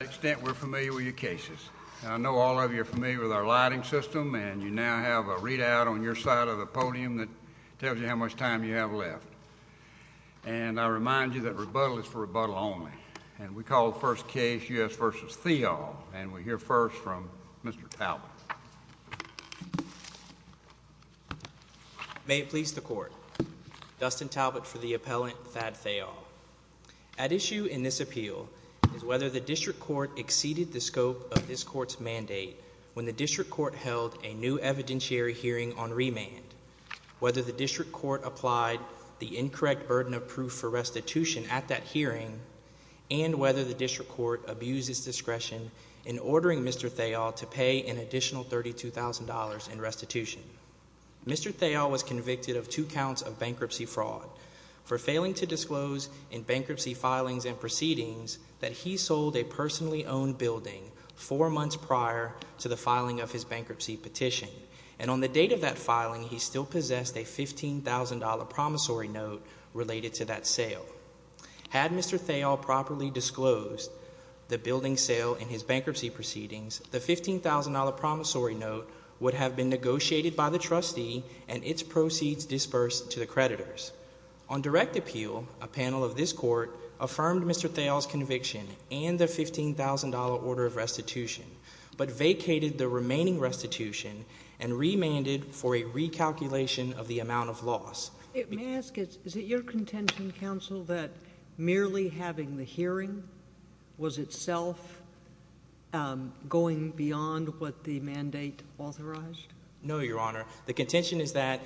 To what extent we're familiar with your cases. I know all of you are familiar with our lighting system, and you now have a readout on your side of the podium that tells you how much time you have left. And I remind you that rebuttal is for rebuttal only. And we call the first case U.S. v. Theall, and we hear first from Mr. Talbot. May it please the court. Dustin Talbot for the appellant, Thad Theall. At issue in this appeal is whether the district court exceeded the scope of this court's mandate when the district court held a new evidentiary hearing on remand, whether the district court applied the incorrect burden of proof for restitution at that hearing, and whether the district court abused its discretion in ordering Mr. Theall to pay an additional $32,000 in restitution. Mr. Theall was convicted of two counts of bankruptcy fraud for failing to disclose in bankruptcy filings and proceedings that he sold a personally owned building four months prior to the filing of his bankruptcy petition. And on the date of that filing, he still possessed a $15,000 promissory note related to that sale. Had Mr. Theall properly disclosed the building sale in his bankruptcy proceedings, the $15,000 promissory note would have been negotiated by the trustee and its proceeds disbursed to the creditors. On direct appeal, a panel of this court affirmed Mr. Theall's conviction and the $15,000 order of restitution, but vacated the remaining restitution and remanded for a recalculation of the amount of loss. May I ask, is it your contention, counsel, that merely having the hearing was itself going beyond what the mandate authorized? No, Your Honor. The contention is that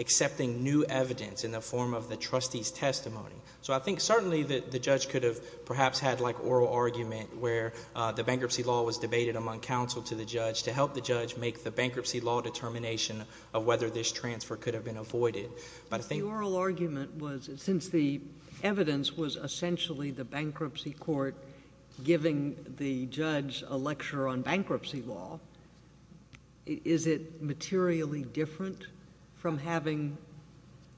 accepting new evidence in the form of the trustee's testimony. So I think certainly the judge could have perhaps had like oral argument where the bankruptcy law was debated among counsel to the judge to help the judge make the bankruptcy law determination of whether this transfer could have been avoided. The oral argument was since the evidence was essentially the bankruptcy court giving the judge a lecture on bankruptcy law, is it materially different from having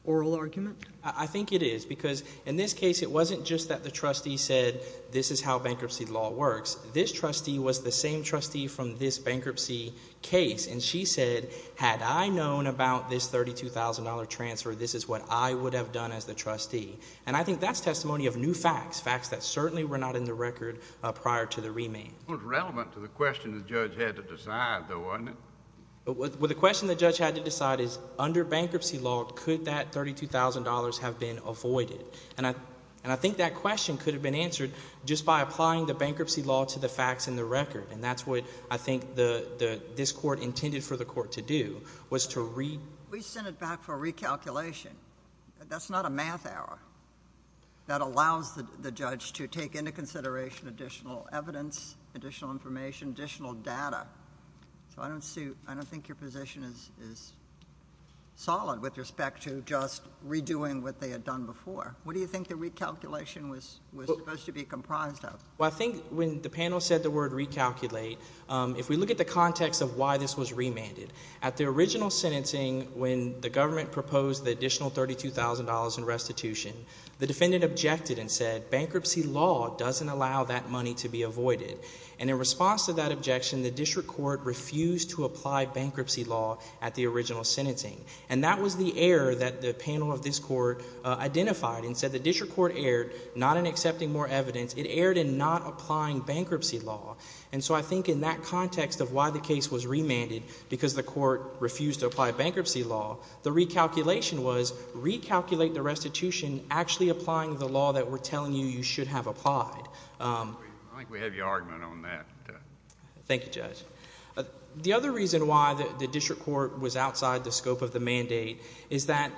oral argument? I think it is because in this case it wasn't just that the trustee said this is how bankruptcy law works. This trustee was the same trustee from this bankruptcy case, and she said, had I known about this $32,000 transfer, this is what I would have done as the trustee. And I think that's testimony of new facts, facts that certainly were not in the record prior to the remand. It was relevant to the question the judge had to decide, though, wasn't it? Well, the question the judge had to decide is under bankruptcy law, could that $32,000 have been avoided? And I think that question could have been answered just by applying the bankruptcy law to the facts in the record. And that's what I think this court intended for the court to do was to re- We sent it back for recalculation. That's not a math error. That allows the judge to take into consideration additional evidence, additional information, additional data. So I don't think your position is solid with respect to just redoing what they had done before. What do you think the recalculation was supposed to be comprised of? Well, I think when the panel said the word recalculate, if we look at the context of why this was remanded, at the original sentencing when the government proposed the additional $32,000 in restitution, the defendant objected and said bankruptcy law doesn't allow that money to be avoided. And in response to that objection, the district court refused to apply bankruptcy law at the original sentencing. And that was the error that the panel of this court identified and said the district court erred not in accepting more evidence. It erred in not applying bankruptcy law. And so I think in that context of why the case was remanded because the court refused to apply bankruptcy law, the recalculation was recalculate the restitution actually applying the law that we're telling you you should have applied. I think we have your argument on that. Thank you, Judge. The other reason why the district court was outside the scope of the mandate is that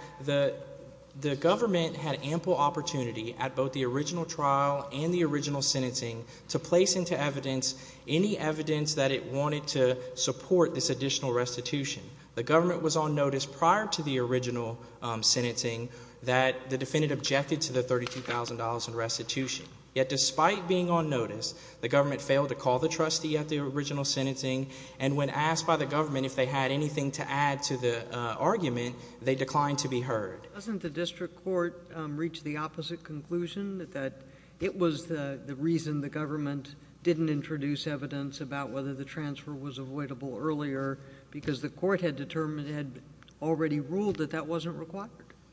the government had ample opportunity at both the original trial and the original sentencing to place into evidence any evidence that it wanted to support this additional restitution. The government was on notice prior to the original sentencing that the defendant objected to the $32,000 in restitution. Yet despite being on notice, the government failed to call the trustee at the original sentencing. And when asked by the government if they had anything to add to the argument, they declined to be heard. Doesn't the district court reach the opposite conclusion that it was the reason the government didn't introduce evidence about whether the transfer was avoidable earlier because the court had determined, had already ruled that that wasn't required?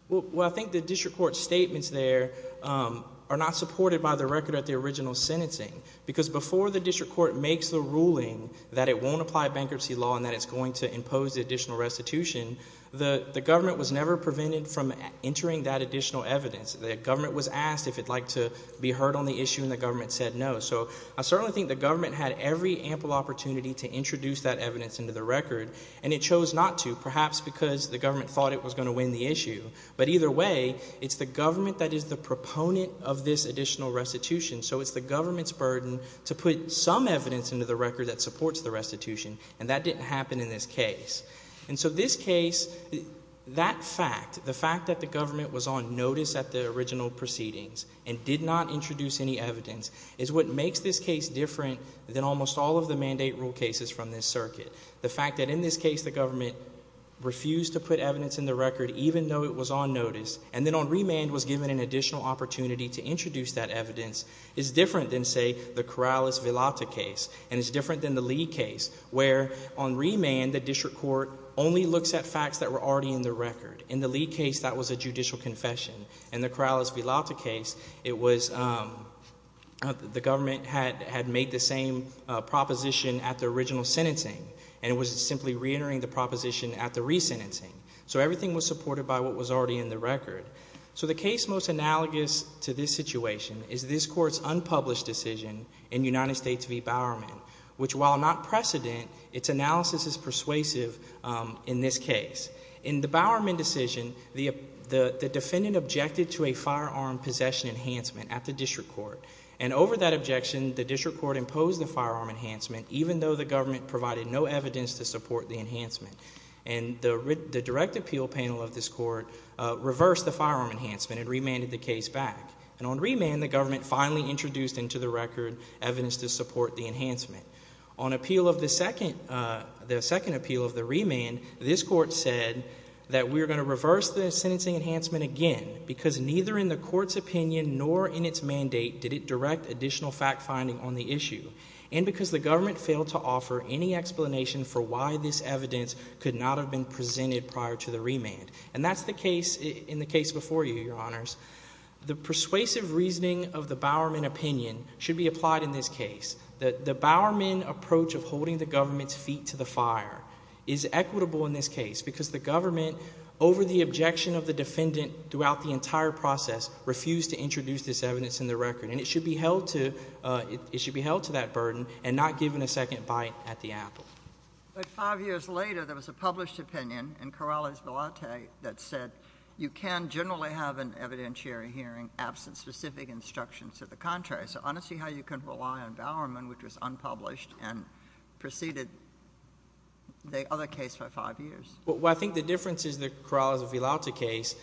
Well, I think the district court's statements there are not supported by the record at the original sentencing. Because before the district court makes the ruling that it won't apply bankruptcy law and that it's going to impose additional restitution, the government was never prevented from entering that additional evidence. The government was asked if it'd like to be heard on the issue, and the government said no. So I certainly think the government had every ample opportunity to introduce that evidence into the record, and it chose not to, perhaps because the government thought it was going to win the issue. But either way, it's the government that is the proponent of this additional restitution, so it's the government's burden to put some evidence into the record that supports the restitution. And that didn't happen in this case. And so this case, that fact, the fact that the government was on notice at the original proceedings and did not introduce any evidence is what makes this case different than almost all of the mandate rule cases from this circuit. The fact that in this case the government refused to put evidence in the record, even though it was on notice, and then on remand was given an additional opportunity to introduce that evidence, is different than, say, the Corrales-Villalta case. And it's different than the Lee case, where on remand the district court only looks at facts that were already in the record. In the Lee case, that was a judicial confession. In the Corrales-Villalta case, it was the government had made the same proposition at the original sentencing, and it was simply reentering the proposition at the resentencing. So everything was supported by what was already in the record. So the case most analogous to this situation is this court's unpublished decision in United States v. Bowerman, which, while not precedent, its analysis is persuasive in this case. In the Bowerman decision, the defendant objected to a firearm possession enhancement at the district court. And over that objection, the district court imposed the firearm enhancement, even though the government provided no evidence to support the enhancement. And the direct appeal panel of this court reversed the firearm enhancement and remanded the case back. And on remand, the government finally introduced into the record evidence to support the enhancement. On appeal of the second appeal of the remand, this court said that we're going to reverse the sentencing enhancement again because neither in the court's opinion nor in its mandate did it direct additional fact-finding on the issue, and because the government failed to offer any explanation for why this evidence could not have been presented prior to the remand. And that's the case in the case before you, Your Honors. The persuasive reasoning of the Bowerman opinion should be applied in this case. The Bowerman approach of holding the government's feet to the fire is equitable in this case because the government, over the objection of the defendant throughout the entire process, refused to introduce this evidence in the record. And it should be held to that burden and not given a second bite at the apple. But five years later, there was a published opinion in Corrales-Vellante that said you can generally have an evidentiary hearing absent specific instructions to the contrary. So honestly, how you can rely on Bowerman, which was unpublished, and preceded the other case by five years? Well, I think the difference is the Corrales-Vellante case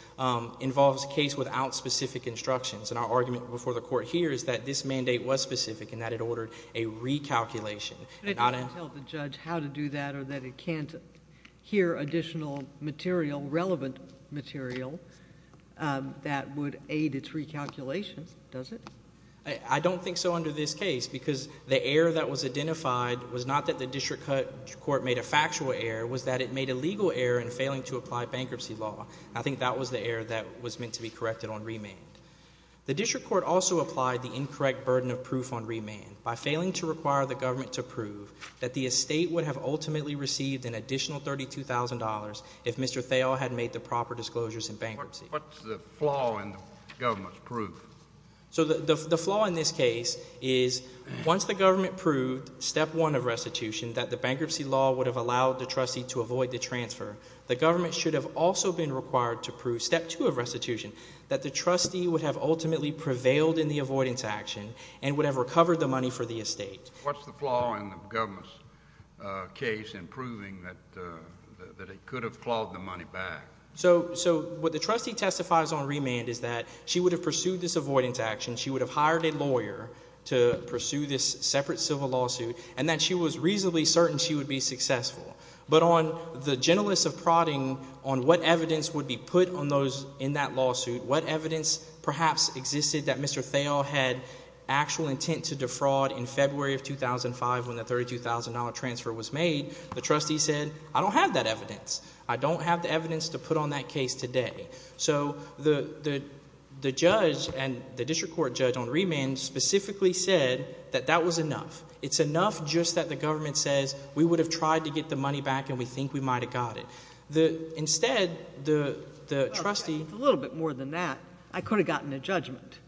involves a case without specific instructions. And our argument before the Court here is that this mandate was specific and that it ordered a recalculation. It did not tell the judge how to do that or that it can't hear additional material, relevant material, that would aid its recalculation, does it? I don't think so under this case because the error that was identified was not that the district court made a factual error. It was that it made a legal error in failing to apply bankruptcy law. I think that was the error that was meant to be corrected on remand. The district court also applied the incorrect burden of proof on remand by failing to require the government to prove that the estate would have ultimately received an additional $32,000 if Mr. Thayil had made the proper disclosures in bankruptcy. What's the flaw in the government's proof? So the flaw in this case is once the government proved step one of restitution, that the bankruptcy law would have allowed the trustee to avoid the transfer, the government should have also been required to prove step two of restitution, that the trustee would have ultimately prevailed in the avoidance action and would have recovered the money for the estate. What's the flaw in the government's case in proving that it could have clawed the money back? So what the trustee testifies on remand is that she would have pursued this avoidance action. She would have hired a lawyer to pursue this separate civil lawsuit and that she was reasonably certain she would be successful. But on the gentleness of prodding on what evidence would be put on those in that lawsuit, what evidence perhaps existed that Mr. Thayil had actual intent to defraud in February of 2005 when the $32,000 transfer was made, the trustee said I don't have that evidence. I don't have the evidence to put on that case today. So the judge and the district court judge on remand specifically said that that was enough. It's enough just that the government says we would have tried to get the money back and we think we might have got it. Instead, the trustee— A little bit more than that. I could have gotten a judgment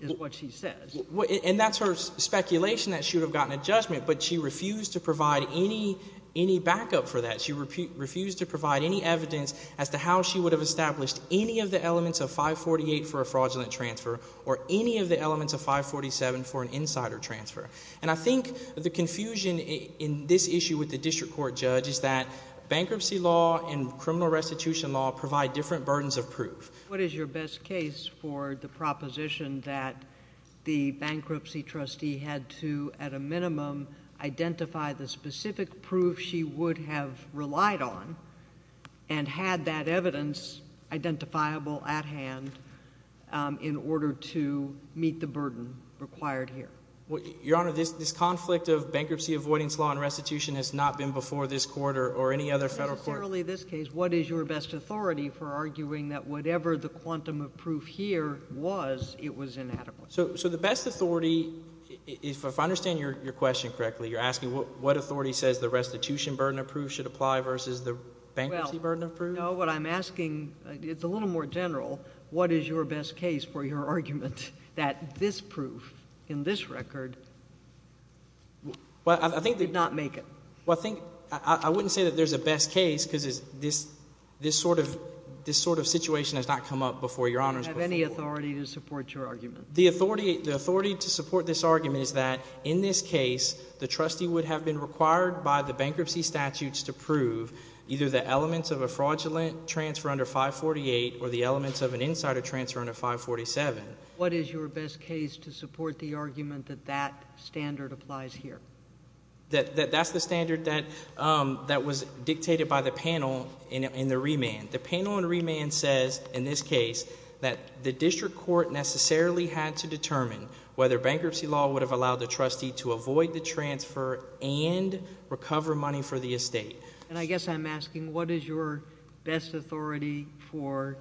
is what she says. And that's her speculation that she would have gotten a judgment, but she refused to provide any backup for that. She refused to provide any evidence as to how she would have established any of the elements of 548 for a fraudulent transfer or any of the elements of 547 for an insider transfer. And I think the confusion in this issue with the district court judge is that bankruptcy law and criminal restitution law provide different burdens of proof. What is your best case for the proposition that the bankruptcy trustee had to, at a minimum, identify the specific proof she would have relied on and had that evidence identifiable at hand in order to meet the burden required here? Your Honor, this conflict of bankruptcy avoidance law and restitution has not been before this court or any other federal court. But not necessarily this case. What is your best authority for arguing that whatever the quantum of proof here was, it was inadequate? So the best authority, if I understand your question correctly, you're asking what authority says the restitution burden of proof should apply versus the bankruptcy burden of proof? No, what I'm asking – it's a little more general. What is your best case for your argument that this proof in this record did not make it? Well, I think – I wouldn't say that there's a best case because this sort of situation has not come up before, Your Honor. Do you have any authority to support your argument? The authority to support this argument is that in this case, the trustee would have been required by the bankruptcy statutes to prove either the elements of a fraudulent transfer under 548 or the elements of an insider transfer under 547. What is your best case to support the argument that that standard applies here? That's the standard that was dictated by the panel in the remand. The panel in remand says in this case that the district court necessarily had to determine whether bankruptcy law would have allowed the trustee to avoid the transfer and recover money for the estate. And I guess I'm asking what is your best authority for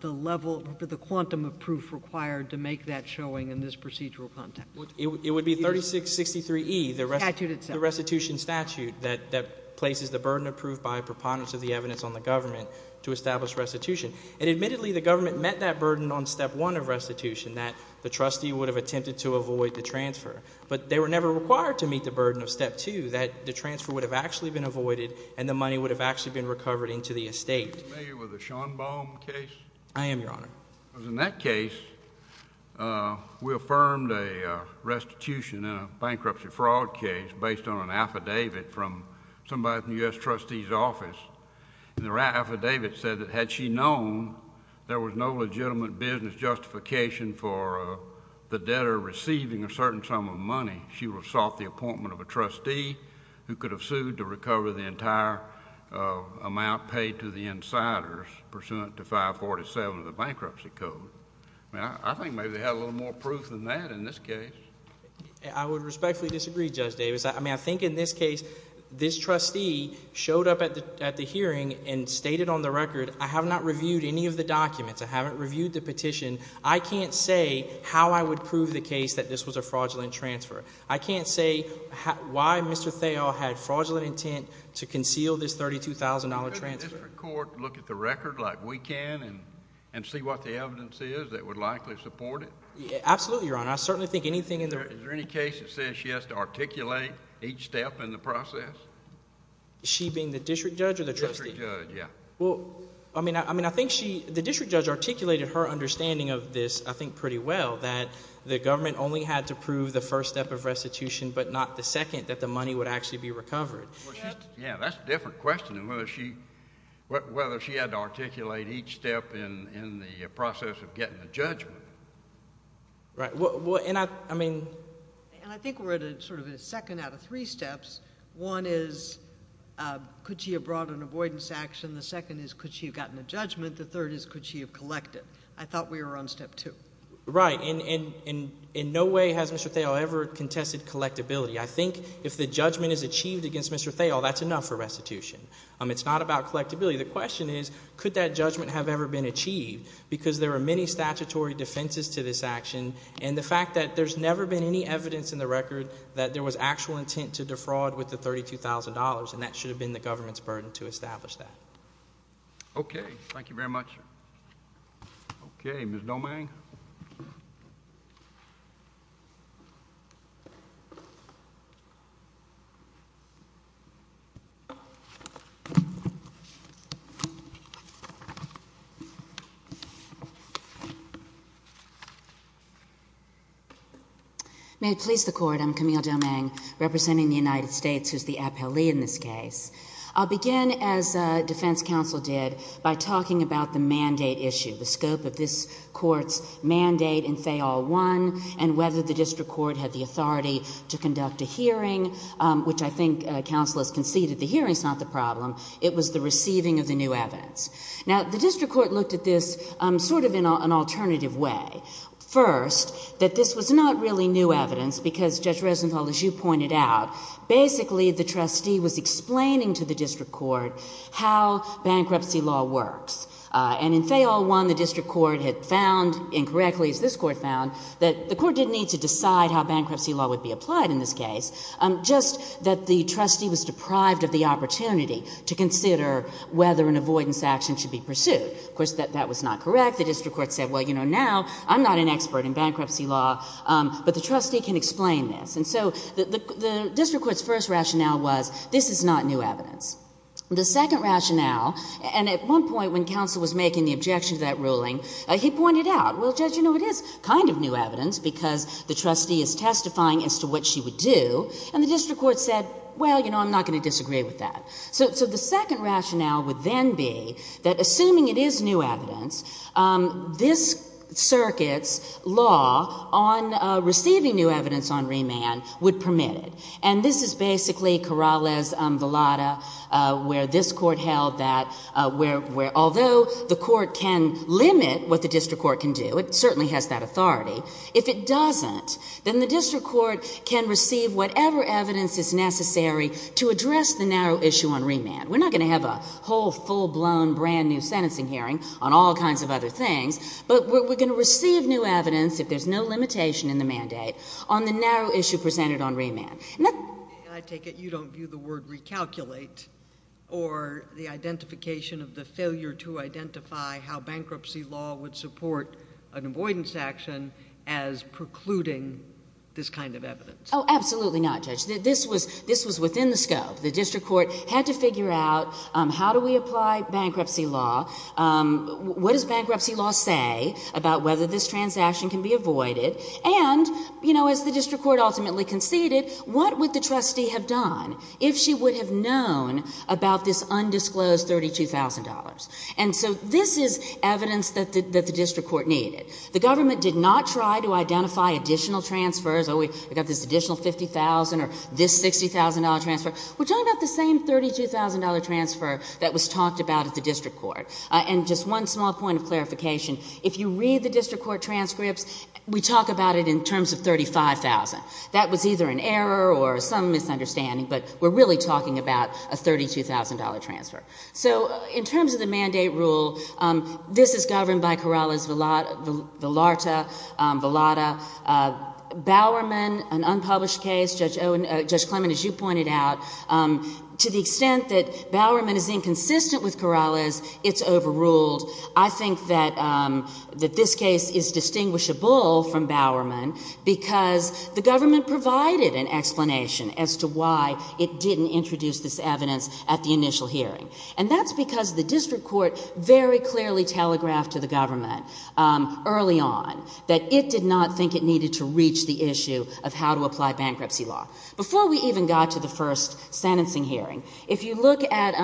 the level – for the quantum of proof required to make that showing in this procedural context? It would be 3663E, the restitution statute that places the burden approved by a preponderance of the evidence on the government to establish restitution. And admittedly, the government met that burden on step one of restitution, that the trustee would have attempted to avoid the transfer. But they were never required to meet the burden of step two, that the transfer would have actually been avoided and the money would have actually been recovered into the estate. Are you familiar with the Schonbaum case? I am, Your Honor. Because in that case, we affirmed a restitution in a bankruptcy fraud case based on an affidavit from somebody from the U.S. trustee's office. And the affidavit said that had she known there was no legitimate business justification for the debtor receiving a certain sum of money, she would have sought the appointment of a trustee who could have sued to recover the entire amount paid to the insiders pursuant to 547 of the bankruptcy code. I think maybe they had a little more proof than that in this case. I would respectfully disagree, Judge Davis. I mean I think in this case this trustee showed up at the hearing and stated on the record I have not reviewed any of the documents. I haven't reviewed the petition. I can't say how I would prove the case that this was a fraudulent transfer. I can't say why Mr. Thao had fraudulent intent to conceal this $32,000 transfer. Couldn't the district court look at the record like we can and see what the evidence is that would likely support it? Absolutely, Your Honor. I certainly think anything in the – Is there any case that says she has to articulate each step in the process? She being the district judge or the trustee? District judge, yeah. Well, I mean I think she – the district judge articulated her understanding of this, I think, pretty well, that the government only had to prove the first step of restitution but not the second that the money would actually be recovered. Yeah, that's a different question than whether she had to articulate each step in the process of getting the judgment. Right. Well, and I mean – And I think we're at sort of a second out of three steps. One is could she have brought an avoidance action? The second is could she have gotten a judgment? The third is could she have collected? I thought we were on step two. Right. And in no way has Mr. Thao ever contested collectability. I think if the judgment is achieved against Mr. Thao, that's enough for restitution. It's not about collectability. The question is could that judgment have ever been achieved because there are many statutory defenses to this action and the fact that there's never been any evidence in the record that there was actual intent to defraud with the $32,000, and that should have been the government's burden to establish that. Okay. May it please the Court. I'm Camille Domingue, representing the United States, who's the appellee in this case. I'll begin, as defense counsel did, by talking about the mandate issue, the scope of this court's mandate in FAIL I and whether the district court had the authority to conduct a hearing, which I think counsel has conceded the hearing is not the problem. It was the receiving of the new evidence. Now, the district court looked at this sort of in an alternative way. First, that this was not really new evidence because, Judge Rosenthal, as you pointed out, basically the trustee was explaining to the district court how bankruptcy law works. And in FAIL I, the district court had found, incorrectly as this court found, that the court didn't need to decide how bankruptcy law would be applied in this case, just that the trustee was deprived of the opportunity to consider whether an avoidance action should be pursued. Of course, that was not correct. The district court said, well, you know, now I'm not an expert in bankruptcy law, but the trustee can explain this. And so the district court's first rationale was this is not new evidence. The second rationale, and at one point when counsel was making the objection to that ruling, he pointed out, well, Judge, you know, it is kind of new evidence because the trustee is testifying as to what she would do. And the district court said, well, you know, I'm not going to disagree with that. So the second rationale would then be that assuming it is new evidence, this circuit's law on receiving new evidence on remand would permit it. And this is basically Corrales-Villada, where this court held that although the court can limit what the district court can do, it certainly has that authority, if it doesn't, then the district court can receive whatever evidence is necessary to address the narrow issue on remand. We're not going to have a whole, full-blown, brand-new sentencing hearing on all kinds of other things, but we're going to receive new evidence if there's no limitation in the mandate on the narrow issue presented on remand. I take it you don't view the word recalculate or the identification of the failure to identify how bankruptcy law would support an avoidance action as precluding this kind of evidence. Oh, absolutely not, Judge. This was within the scope. The district court had to figure out how do we apply bankruptcy law, what does bankruptcy law say about whether this transaction can be avoided, and, you know, as the district court ultimately conceded, what would the trustee have done if she would have known about this undisclosed $32,000? And so this is evidence that the district court needed. The government did not try to identify additional transfers, oh, we've got this additional $50,000 or this $60,000 transfer. We're talking about the same $32,000 transfer that was talked about at the district court. And just one small point of clarification, if you read the district court transcripts, we talk about it in terms of $35,000. That was either an error or some misunderstanding, but we're really talking about a $32,000 transfer. So in terms of the mandate rule, this is governed by Corrales-Villarta. Bowerman, an unpublished case, Judge Clement, as you pointed out, to the extent that Bowerman is inconsistent with Corrales, it's overruled. I think that this case is distinguishable from Bowerman because the government provided an explanation as to why it didn't introduce this evidence at the initial hearing. And that's because the district court very clearly telegraphed to the government early on that it did not think it needed to reach the issue of how to apply bankruptcy law. Before we even got to the first sentencing hearing, if you look at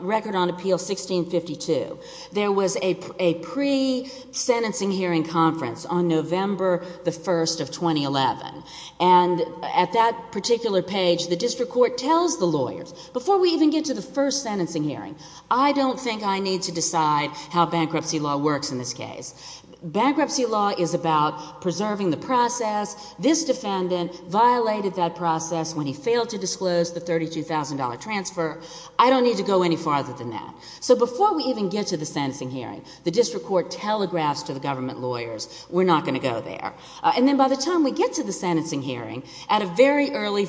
Record on Appeal 1652, there was a pre-sentencing hearing conference on November the 1st of 2011. And at that particular page, the district court tells the lawyers, before we even get to the first sentencing hearing, I don't think I need to decide how bankruptcy law works in this case. Bankruptcy law is about preserving the process. This defendant violated that process when he failed to disclose the $32,000 transfer. I don't need to go any farther than that. So before we even get to the sentencing hearing, the district court telegraphs to the government lawyers, we're not going to go there. And then by the time we get to the sentencing hearing, at a very early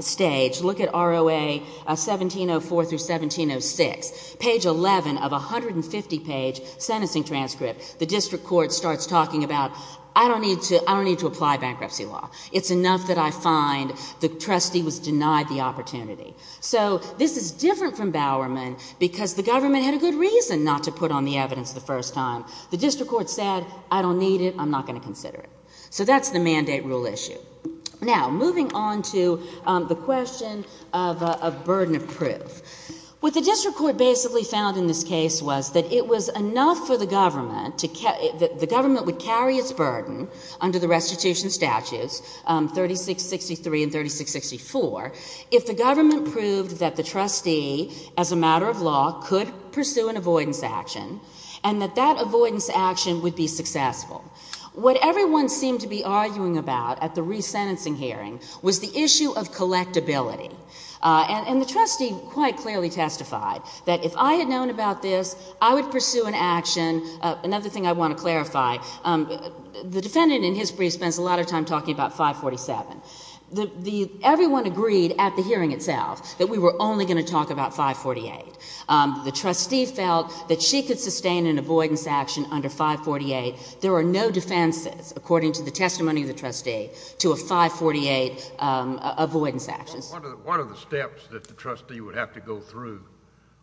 stage, look at ROA 1704 through 1706, page 11 of a 150-page sentencing transcript, the district court starts talking about, I don't need to apply bankruptcy law. It's enough that I find the trustee was denied the opportunity. So this is different from Bowerman because the government had a good reason not to put on the evidence the first time. The district court said, I don't need it, I'm not going to consider it. So that's the mandate rule issue. Now, moving on to the question of burden of proof. What the district court basically found in this case was that it was enough for the government, the government would carry its burden under the restitution statutes, 3663 and 3664, if the government proved that the trustee, as a matter of law, could pursue an avoidance action, and that that avoidance action would be successful. What everyone seemed to be arguing about at the resentencing hearing was the issue of collectability. And the trustee quite clearly testified that if I had known about this, I would pursue an action. Another thing I want to clarify, the defendant in his brief spends a lot of time talking about 547. Everyone agreed at the hearing itself that we were only going to talk about 548. The trustee felt that she could sustain an avoidance action under 548. There are no defenses, according to the testimony of the trustee, to a 548 avoidance action. What are the steps that the trustee would have to go through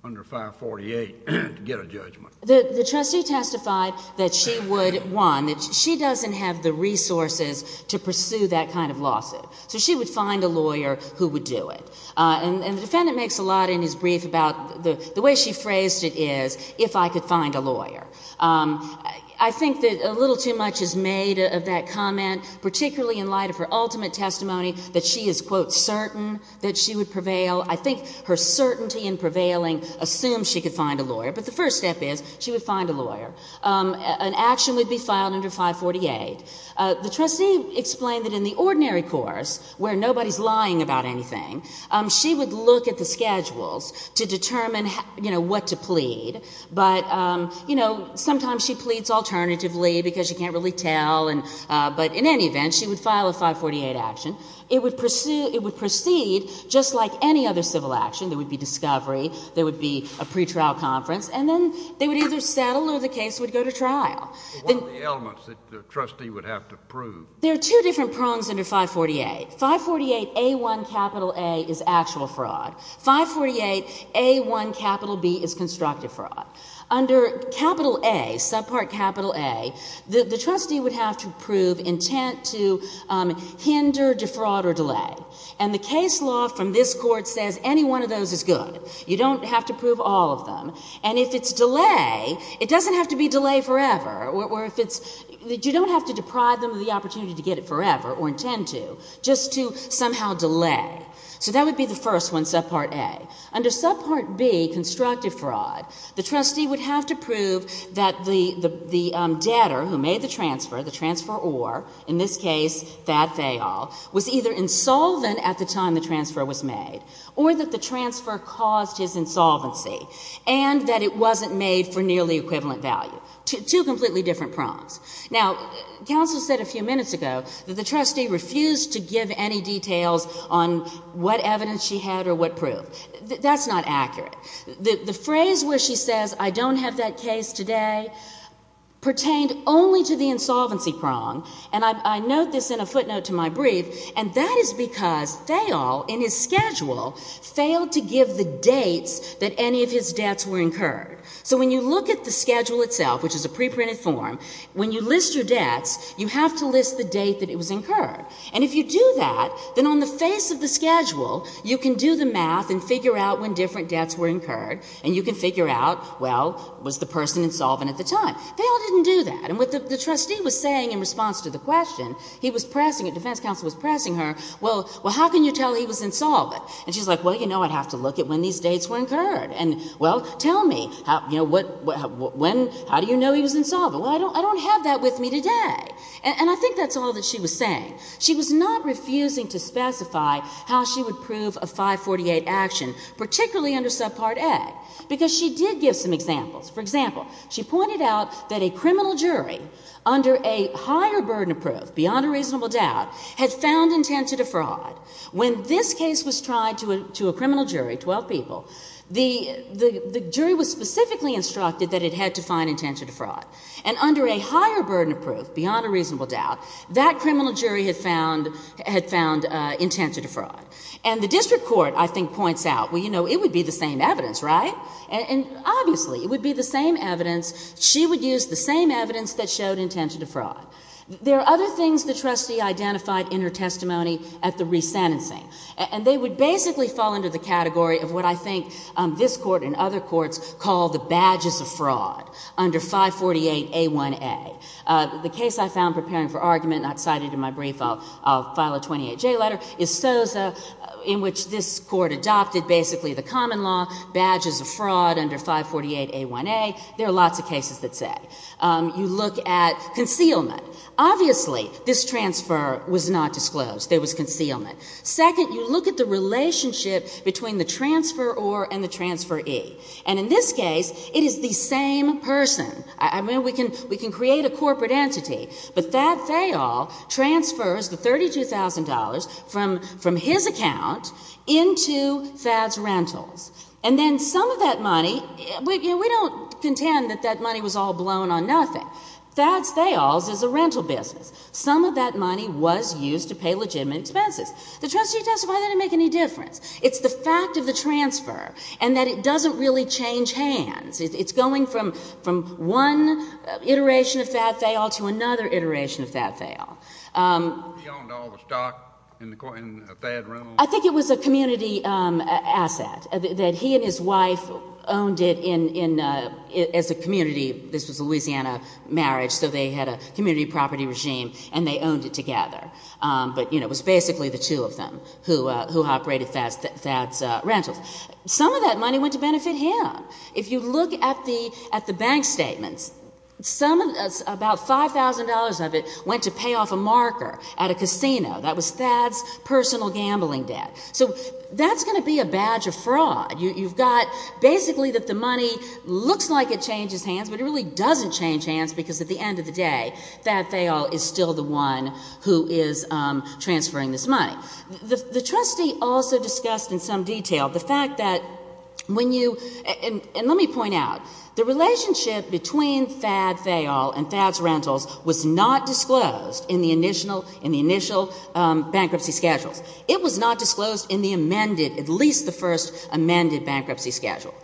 under 548 to get a judgment? The trustee testified that she would, one, that she doesn't have the resources to pursue that kind of lawsuit. So she would find a lawyer who would do it. And the defendant makes a lot in his brief about the way she phrased it is, if I could find a lawyer. I think that a little too much is made of that comment, particularly in light of her ultimate testimony, that she is, quote, certain that she would prevail. I think her certainty in prevailing assumes she could find a lawyer. But the first step is she would find a lawyer. An action would be filed under 548. The trustee explained that in the ordinary course, where nobody is lying about anything, she would look at the schedules to determine, you know, what to plead. But, you know, sometimes she pleads alternatively because she can't really tell. But in any event, she would file a 548 action. It would proceed just like any other civil action. There would be discovery. There would be a pretrial conference. And then they would either settle or the case would go to trial. One of the elements that the trustee would have to prove. There are two different prongs under 548. 548A1A is actual fraud. 548A1B is constructive fraud. Under A, subpart A, the trustee would have to prove intent to hinder, defraud, or delay. And the case law from this court says any one of those is good. You don't have to prove all of them. And if it's delay, it doesn't have to be delay forever. Or if it's you don't have to deprive them of the opportunity to get it forever or intend to. Just to somehow delay. So that would be the first one, subpart A. Under subpart B, constructive fraud, the trustee would have to prove that the debtor who made the transfer, the transfer or, in this case, that they all, was either insolvent at the time the transfer was made or that the transfer caused his insolvency and that it wasn't made for nearly equivalent value. Two completely different prongs. Now, counsel said a few minutes ago that the trustee refused to give any details on what evidence she had or what proof. That's not accurate. The phrase where she says I don't have that case today pertained only to the insolvency prong. And I note this in a footnote to my brief. And that is because they all, in his schedule, failed to give the dates that any of his debts were incurred. So when you look at the schedule itself, which is a preprinted form, when you list your debts, you have to list the date that it was incurred. And if you do that, then on the face of the schedule, you can do the math and figure out when different debts were incurred, and you can figure out, well, was the person insolvent at the time. They all didn't do that. And what the trustee was saying in response to the question, he was pressing it, defense counsel was pressing her, well, how can you tell he was insolvent? And she's like, well, you know, I'd have to look at when these dates were incurred. And, well, tell me, you know, when, how do you know he was insolvent? Well, I don't have that with me today. And I think that's all that she was saying. She was not refusing to specify how she would prove a 548 action, particularly under subpart A, because she did give some examples. For example, she pointed out that a criminal jury under a higher burden of proof, beyond a reasonable doubt, had found intent to defraud. When this case was tried to a criminal jury, 12 people, the jury was specifically instructed that it had to find intent to defraud. And under a higher burden of proof, beyond a reasonable doubt, that criminal jury had found intent to defraud. And the district court, I think, points out, well, you know, it would be the same evidence, right? And, obviously, it would be the same evidence. She would use the same evidence that showed intent to defraud. There are other things the trustee identified in her testimony at the resentencing. And they would basically fall under the category of what I think this Court and other courts call the badges of fraud under 548A1A. The case I found preparing for argument, not cited in my brief, I'll file a 28J letter, is Sosa, in which this Court adopted basically the common law, badges of fraud under 548A1A. There are lots of cases that say. You look at concealment. Obviously, this transfer was not disclosed. There was concealment. Second, you look at the relationship between the transferor and the transferee. And in this case, it is the same person. I mean, we can create a corporate entity. But Thad Thayall transfers the $32,000 from his account into Thad's Rentals. And then some of that money, we don't contend that that money was all blown on nothing. Thad's Thayalls is a rental business. Some of that money was used to pay legitimate expenses. The trustee testified that it didn't make any difference. It's the fact of the transfer and that it doesn't really change hands. It's going from one iteration of Thad Thayall to another iteration of Thad Thayall. He owned all the stock in Thad Rentals. I think it was a community asset that he and his wife owned it as a community. This was a Louisiana marriage, so they had a community property regime, and they owned it together. But it was basically the two of them who operated Thad's Rentals. Some of that money went to benefit him. If you look at the bank statements, about $5,000 of it went to pay off a marker at a casino. That was Thad's personal gambling debt. So that's going to be a badge of fraud. You've got basically that the money looks like it changes hands, but it really doesn't change hands because at the end of the day, Thad Thayall is still the one who is transferring this money. The trustee also discussed in some detail the fact that when you, and let me point out, the relationship between Thad Thayall and Thad's Rentals was not disclosed in the initial bankruptcy schedules. It was not disclosed in the amended, at least the first amended bankruptcy schedule.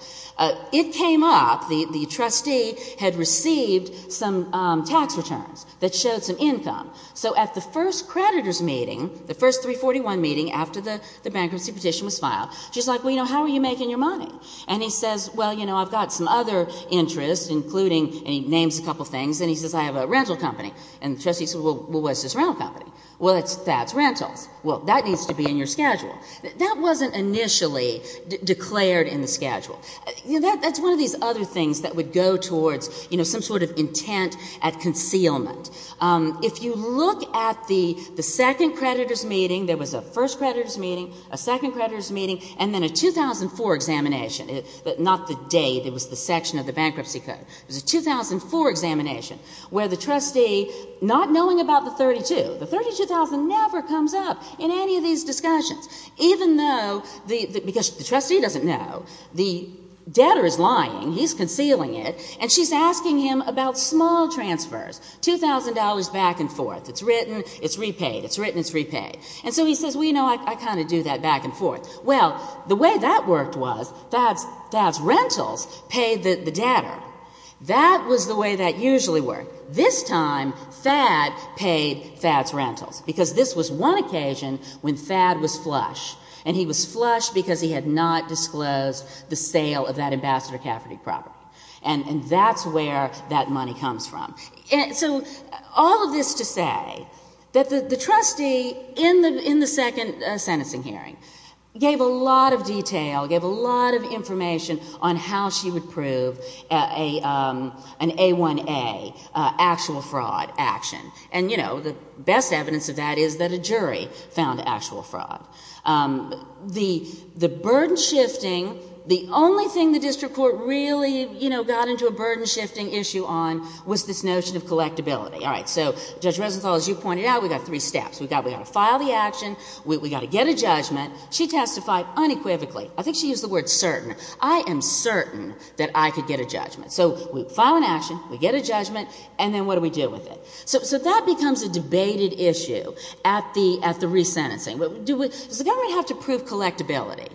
It came up, the trustee had received some tax returns that showed some income. So at the first creditor's meeting, the first 341 meeting after the bankruptcy petition was filed, she's like, well, you know, how are you making your money? And he says, well, you know, I've got some other interests, including, and he names a couple of things, and he says, I have a rental company. And the trustee said, well, what's this rental company? Well, it's Thad's Rentals. Well, that needs to be in your schedule. That wasn't initially declared in the schedule. You know, that's one of these other things that would go towards, you know, some sort of intent at concealment. If you look at the second creditor's meeting, there was a first creditor's meeting, a second creditor's meeting, and then a 2004 examination, but not the date. It was the section of the bankruptcy code. It was a 2004 examination where the trustee, not knowing about the 32, the 32,000 never comes up in any of these discussions, even though, because the trustee doesn't know, the debtor is lying, he's concealing it, and she's asking him about small transfers, $2,000 back and forth. It's written, it's repaid. It's written, it's repaid. And so he says, well, you know, I kind of do that back and forth. Well, the way that worked was Thad's Rentals paid the debtor. That was the way that usually worked. This time Thad paid Thad's Rentals because this was one occasion when Thad was flush, and he was flush because he had not disclosed the sale of that Ambassador Cafferty property, and that's where that money comes from. So all of this to say that the trustee in the second sentencing hearing gave a lot of detail, gave a lot of information on how she would prove an A1A actual fraud action. And, you know, the best evidence of that is that a jury found actual fraud. The burden shifting, the only thing the district court really, you know, got into a burden shifting issue on was this notion of collectability. All right, so Judge Resenthal, as you pointed out, we've got three steps. We've got to file the action, we've got to get a judgment. She testified unequivocally. I think she used the word certain. I am certain that I could get a judgment. So we file an action, we get a judgment, and then what do we do with it? So that becomes a debated issue at the resentencing. Does the government have to prove collectability?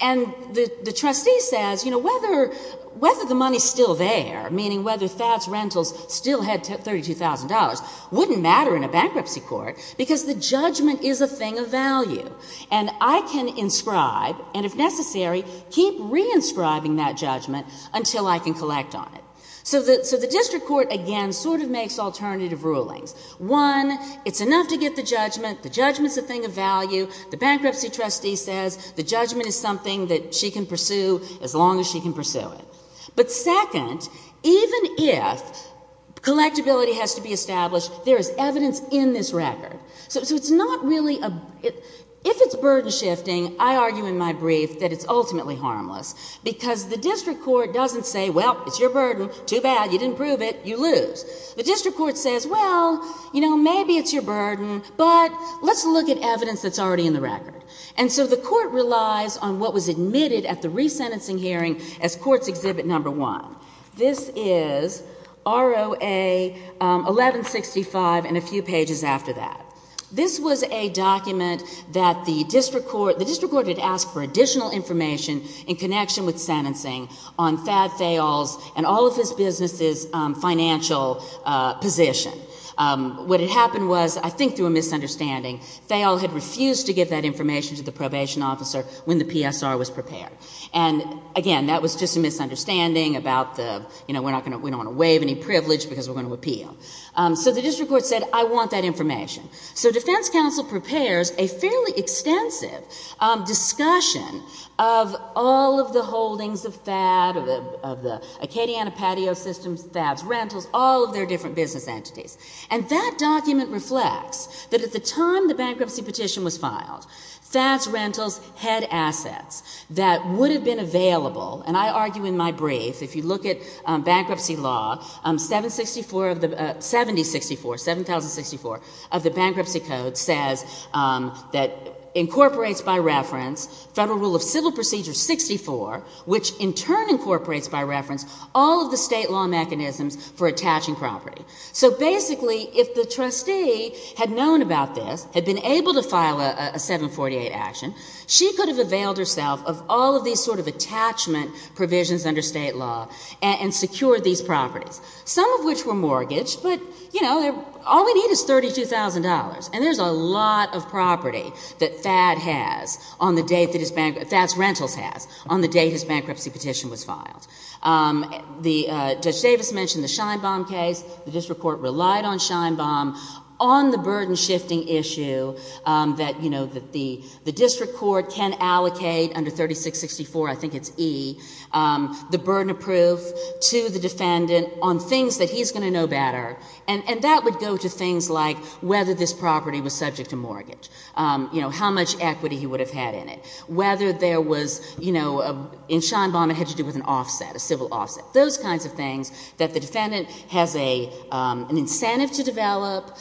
And the trustee says, you know, whether the money's still there, meaning whether Thad's Rentals still had $32,000, wouldn't matter in a bankruptcy court because the judgment is a thing of value. And I can inscribe and, if necessary, keep re-inscribing that judgment until I can collect on it. So the district court, again, sort of makes alternative rulings. One, it's enough to get the judgment. The judgment's a thing of value. The bankruptcy trustee says the judgment is something that she can pursue as long as she can pursue it. But second, even if collectability has to be established, there is evidence in this record. So it's not really a – if it's burden-shifting, I argue in my brief that it's ultimately harmless because the district court doesn't say, well, it's your burden, too bad, you didn't prove it, you lose. The district court says, well, you know, maybe it's your burden, but let's look at evidence that's already in the record. And so the court relies on what was admitted at the resentencing hearing as court's exhibit number one. This is ROA 1165 and a few pages after that. This was a document that the district court – the district court had asked for additional information in connection with sentencing on Thad Fayol's and all of his businesses' financial position. What had happened was, I think through a misunderstanding, Fayol had refused to give that information to the probation officer when the PSR was prepared. And, again, that was just a misunderstanding about the, you know, we're not going to – we don't want to waive any privilege because we're going to appeal. So the district court said, I want that information. So defense counsel prepares a fairly extensive discussion of all of the holdings of Thad, of the Acadiana patio systems, Thad's rentals, all of their different business entities. And that document reflects that at the time the bankruptcy petition was filed, Thad's rentals had assets that would have been available. And I argue in my brief, if you look at bankruptcy law, 7064, 7064 of the Bankruptcy Code says that incorporates by reference Federal Rule of Civil Procedure 64, which in turn incorporates by reference all of the state law mechanisms for attaching property. So, basically, if the trustee had known about this, had been able to file a 748 action, she could have availed herself of all of these sort of attachment provisions under state law and secured these properties, some of which were mortgaged. But, you know, all we need is $32,000. And there's a lot of property that Thad has on the date that his bankruptcy – Thad's rentals has on the date his bankruptcy petition was filed. Judge Davis mentioned the Scheinbaum case. The district court relied on Scheinbaum on the burden-shifting issue that, you know, the district court can allocate under 3664, I think it's E, the burden of proof to the defendant on things that he's going to know better. And that would go to things like whether this property was subject to mortgage, you know, how much equity he would have had in it, whether there was, you know, in Scheinbaum it had to do with an offset, a civil offset. Those kinds of things that the defendant has an incentive to develop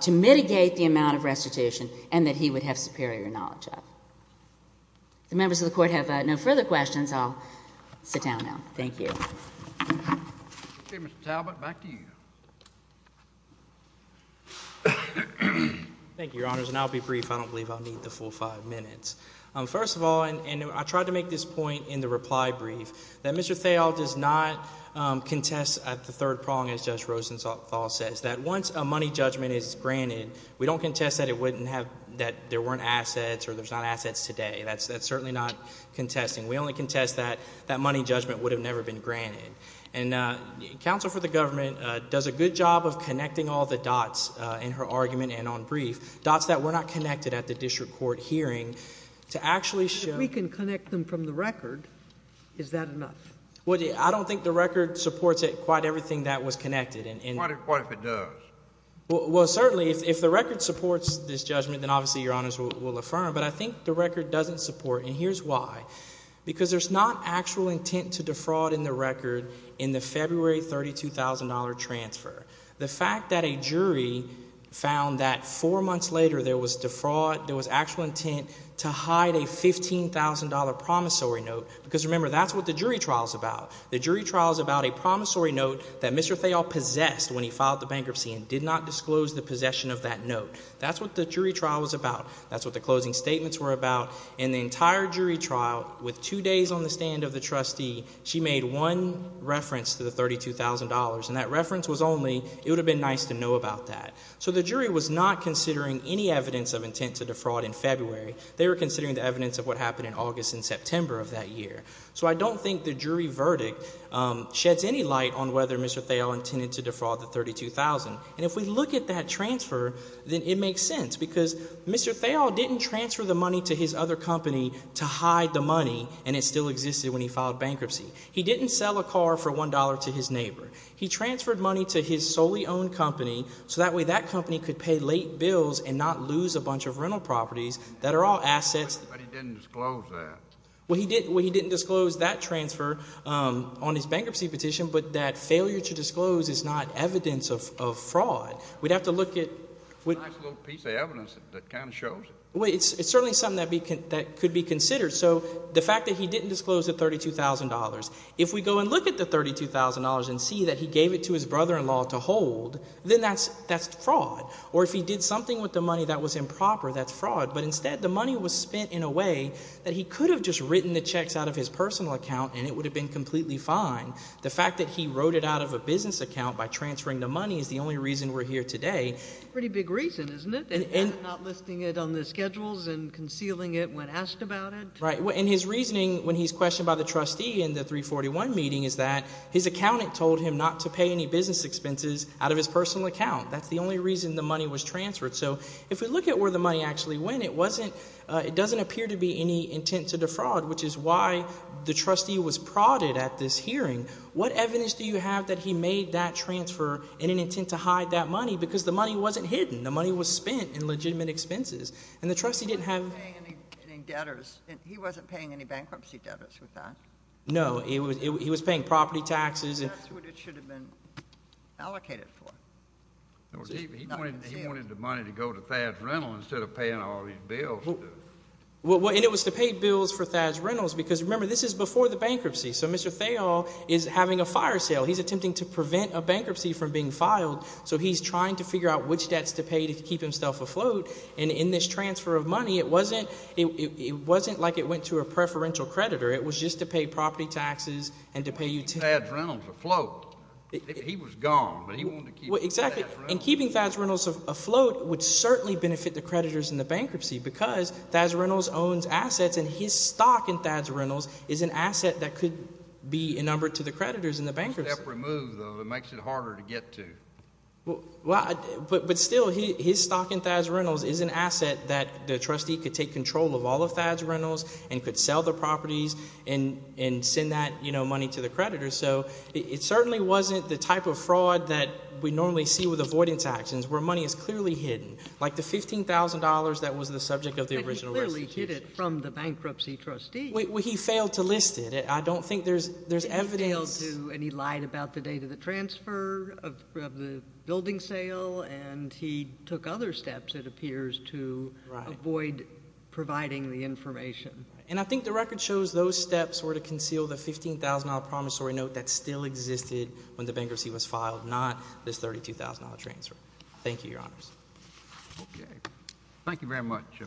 to mitigate the amount of restitution and that he would have superior knowledge of. If the members of the Court have no further questions, I'll sit down now. Thank you. Mr. Talbot, back to you. Thank you, Your Honors, and I'll be brief. I don't believe I'll need the full five minutes. First of all, and I tried to make this point in the reply brief, that Mr. Thayil does not contest the third prong, as Judge Rosenthal says, that once a money judgment is granted, we don't contest that there weren't assets or there's not assets today. That's certainly not contesting. We only contest that that money judgment would have never been granted. And counsel for the government does a good job of connecting all the dots in her argument and on brief, dots that were not connected at the district court hearing to actually show. If we can connect them from the record, is that enough? Well, I don't think the record supports quite everything that was connected. What if it does? Well, certainly if the record supports this judgment, then obviously Your Honors will affirm. But I think the record doesn't support, and here's why. Because there's not actual intent to defraud in the record in the February $32,000 transfer. The fact that a jury found that four months later there was defraud, there was actual intent to hide a $15,000 promissory note, because remember, that's what the jury trial is about. The jury trial is about a promissory note that Mr. Thayil possessed when he filed the bankruptcy and did not disclose the possession of that note. That's what the jury trial was about. That's what the closing statements were about. In the entire jury trial, with two days on the stand of the trustee, she made one reference to the $32,000, and that reference was only, it would have been nice to know about that. So the jury was not considering any evidence of intent to defraud in February. They were considering the evidence of what happened in August and September of that year. So I don't think the jury verdict sheds any light on whether Mr. Thayil intended to defraud the $32,000. And if we look at that transfer, then it makes sense, because Mr. Thayil didn't transfer the money to his other company to hide the money, and it still existed when he filed bankruptcy. He didn't sell a car for $1 to his neighbor. He transferred money to his solely owned company, so that way that company could pay late bills and not lose a bunch of rental properties that are all assets. But he didn't disclose that. Well, he didn't disclose that transfer on his bankruptcy petition, but that failure to disclose is not evidence of fraud. We'd have to look at— It's a nice little piece of evidence that kind of shows it. It's certainly something that could be considered. So the fact that he didn't disclose the $32,000, if we go and look at the $32,000 and see that he gave it to his brother-in-law to hold, then that's fraud. Or if he did something with the money that was improper, that's fraud. But instead, the money was spent in a way that he could have just written the checks out of his personal account and it would have been completely fine. The fact that he wrote it out of a business account by transferring the money is the only reason we're here today. It's a pretty big reason, isn't it, not listing it on the schedules and concealing it when asked about it? Right. And his reasoning, when he's questioned by the trustee in the 341 meeting, is that his accountant told him not to pay any business expenses out of his personal account. That's the only reason the money was transferred. So if we look at where the money actually went, it doesn't appear to be any intent to defraud, which is why the trustee was prodded at this hearing. What evidence do you have that he made that transfer in an intent to hide that money because the money wasn't hidden? The money was spent in legitimate expenses. And the trustee didn't have— He wasn't paying any debtors. He wasn't paying any bankruptcy debtors with that. No, he was paying property taxes. That's what it should have been allocated for. He wanted the money to go to Thad's Rentals instead of paying all these bills. And it was to pay bills for Thad's Rentals because, remember, this is before the bankruptcy. So Mr. Thayall is having a fire sale. He's attempting to prevent a bankruptcy from being filed. So he's trying to figure out which debts to pay to keep himself afloat. And in this transfer of money, it wasn't like it went to a preferential creditor. It was just to pay property taxes and to pay utility. Keeping Thad's Rentals afloat. He was gone, but he wanted to keep Thad's Rentals afloat. Exactly. And keeping Thad's Rentals afloat would certainly benefit the creditors in the bankruptcy because Thad's Rentals owns assets, and his stock in Thad's Rentals is an asset that could be a number to the creditors in the bankruptcy. It's a step removed, though. It makes it harder to get to. But still, his stock in Thad's Rentals is an asset that the trustee could take control of all of Thad's Rentals and could sell the properties and send that money to the creditors. So it certainly wasn't the type of fraud that we normally see with avoidance actions where money is clearly hidden, like the $15,000 that was the subject of the original residency. But he clearly hid it from the bankruptcy trustee. He failed to list it. I don't think there's evidence. He failed to, and he lied about the date of the transfer of the building sale, and he took other steps, it appears, to avoid providing the information. And I think the record shows those steps were to conceal the $15,000 promissory note that still existed when the bankruptcy was filed, not this $32,000 transfer. Thank you, Your Honors. Okay. Thank you very much.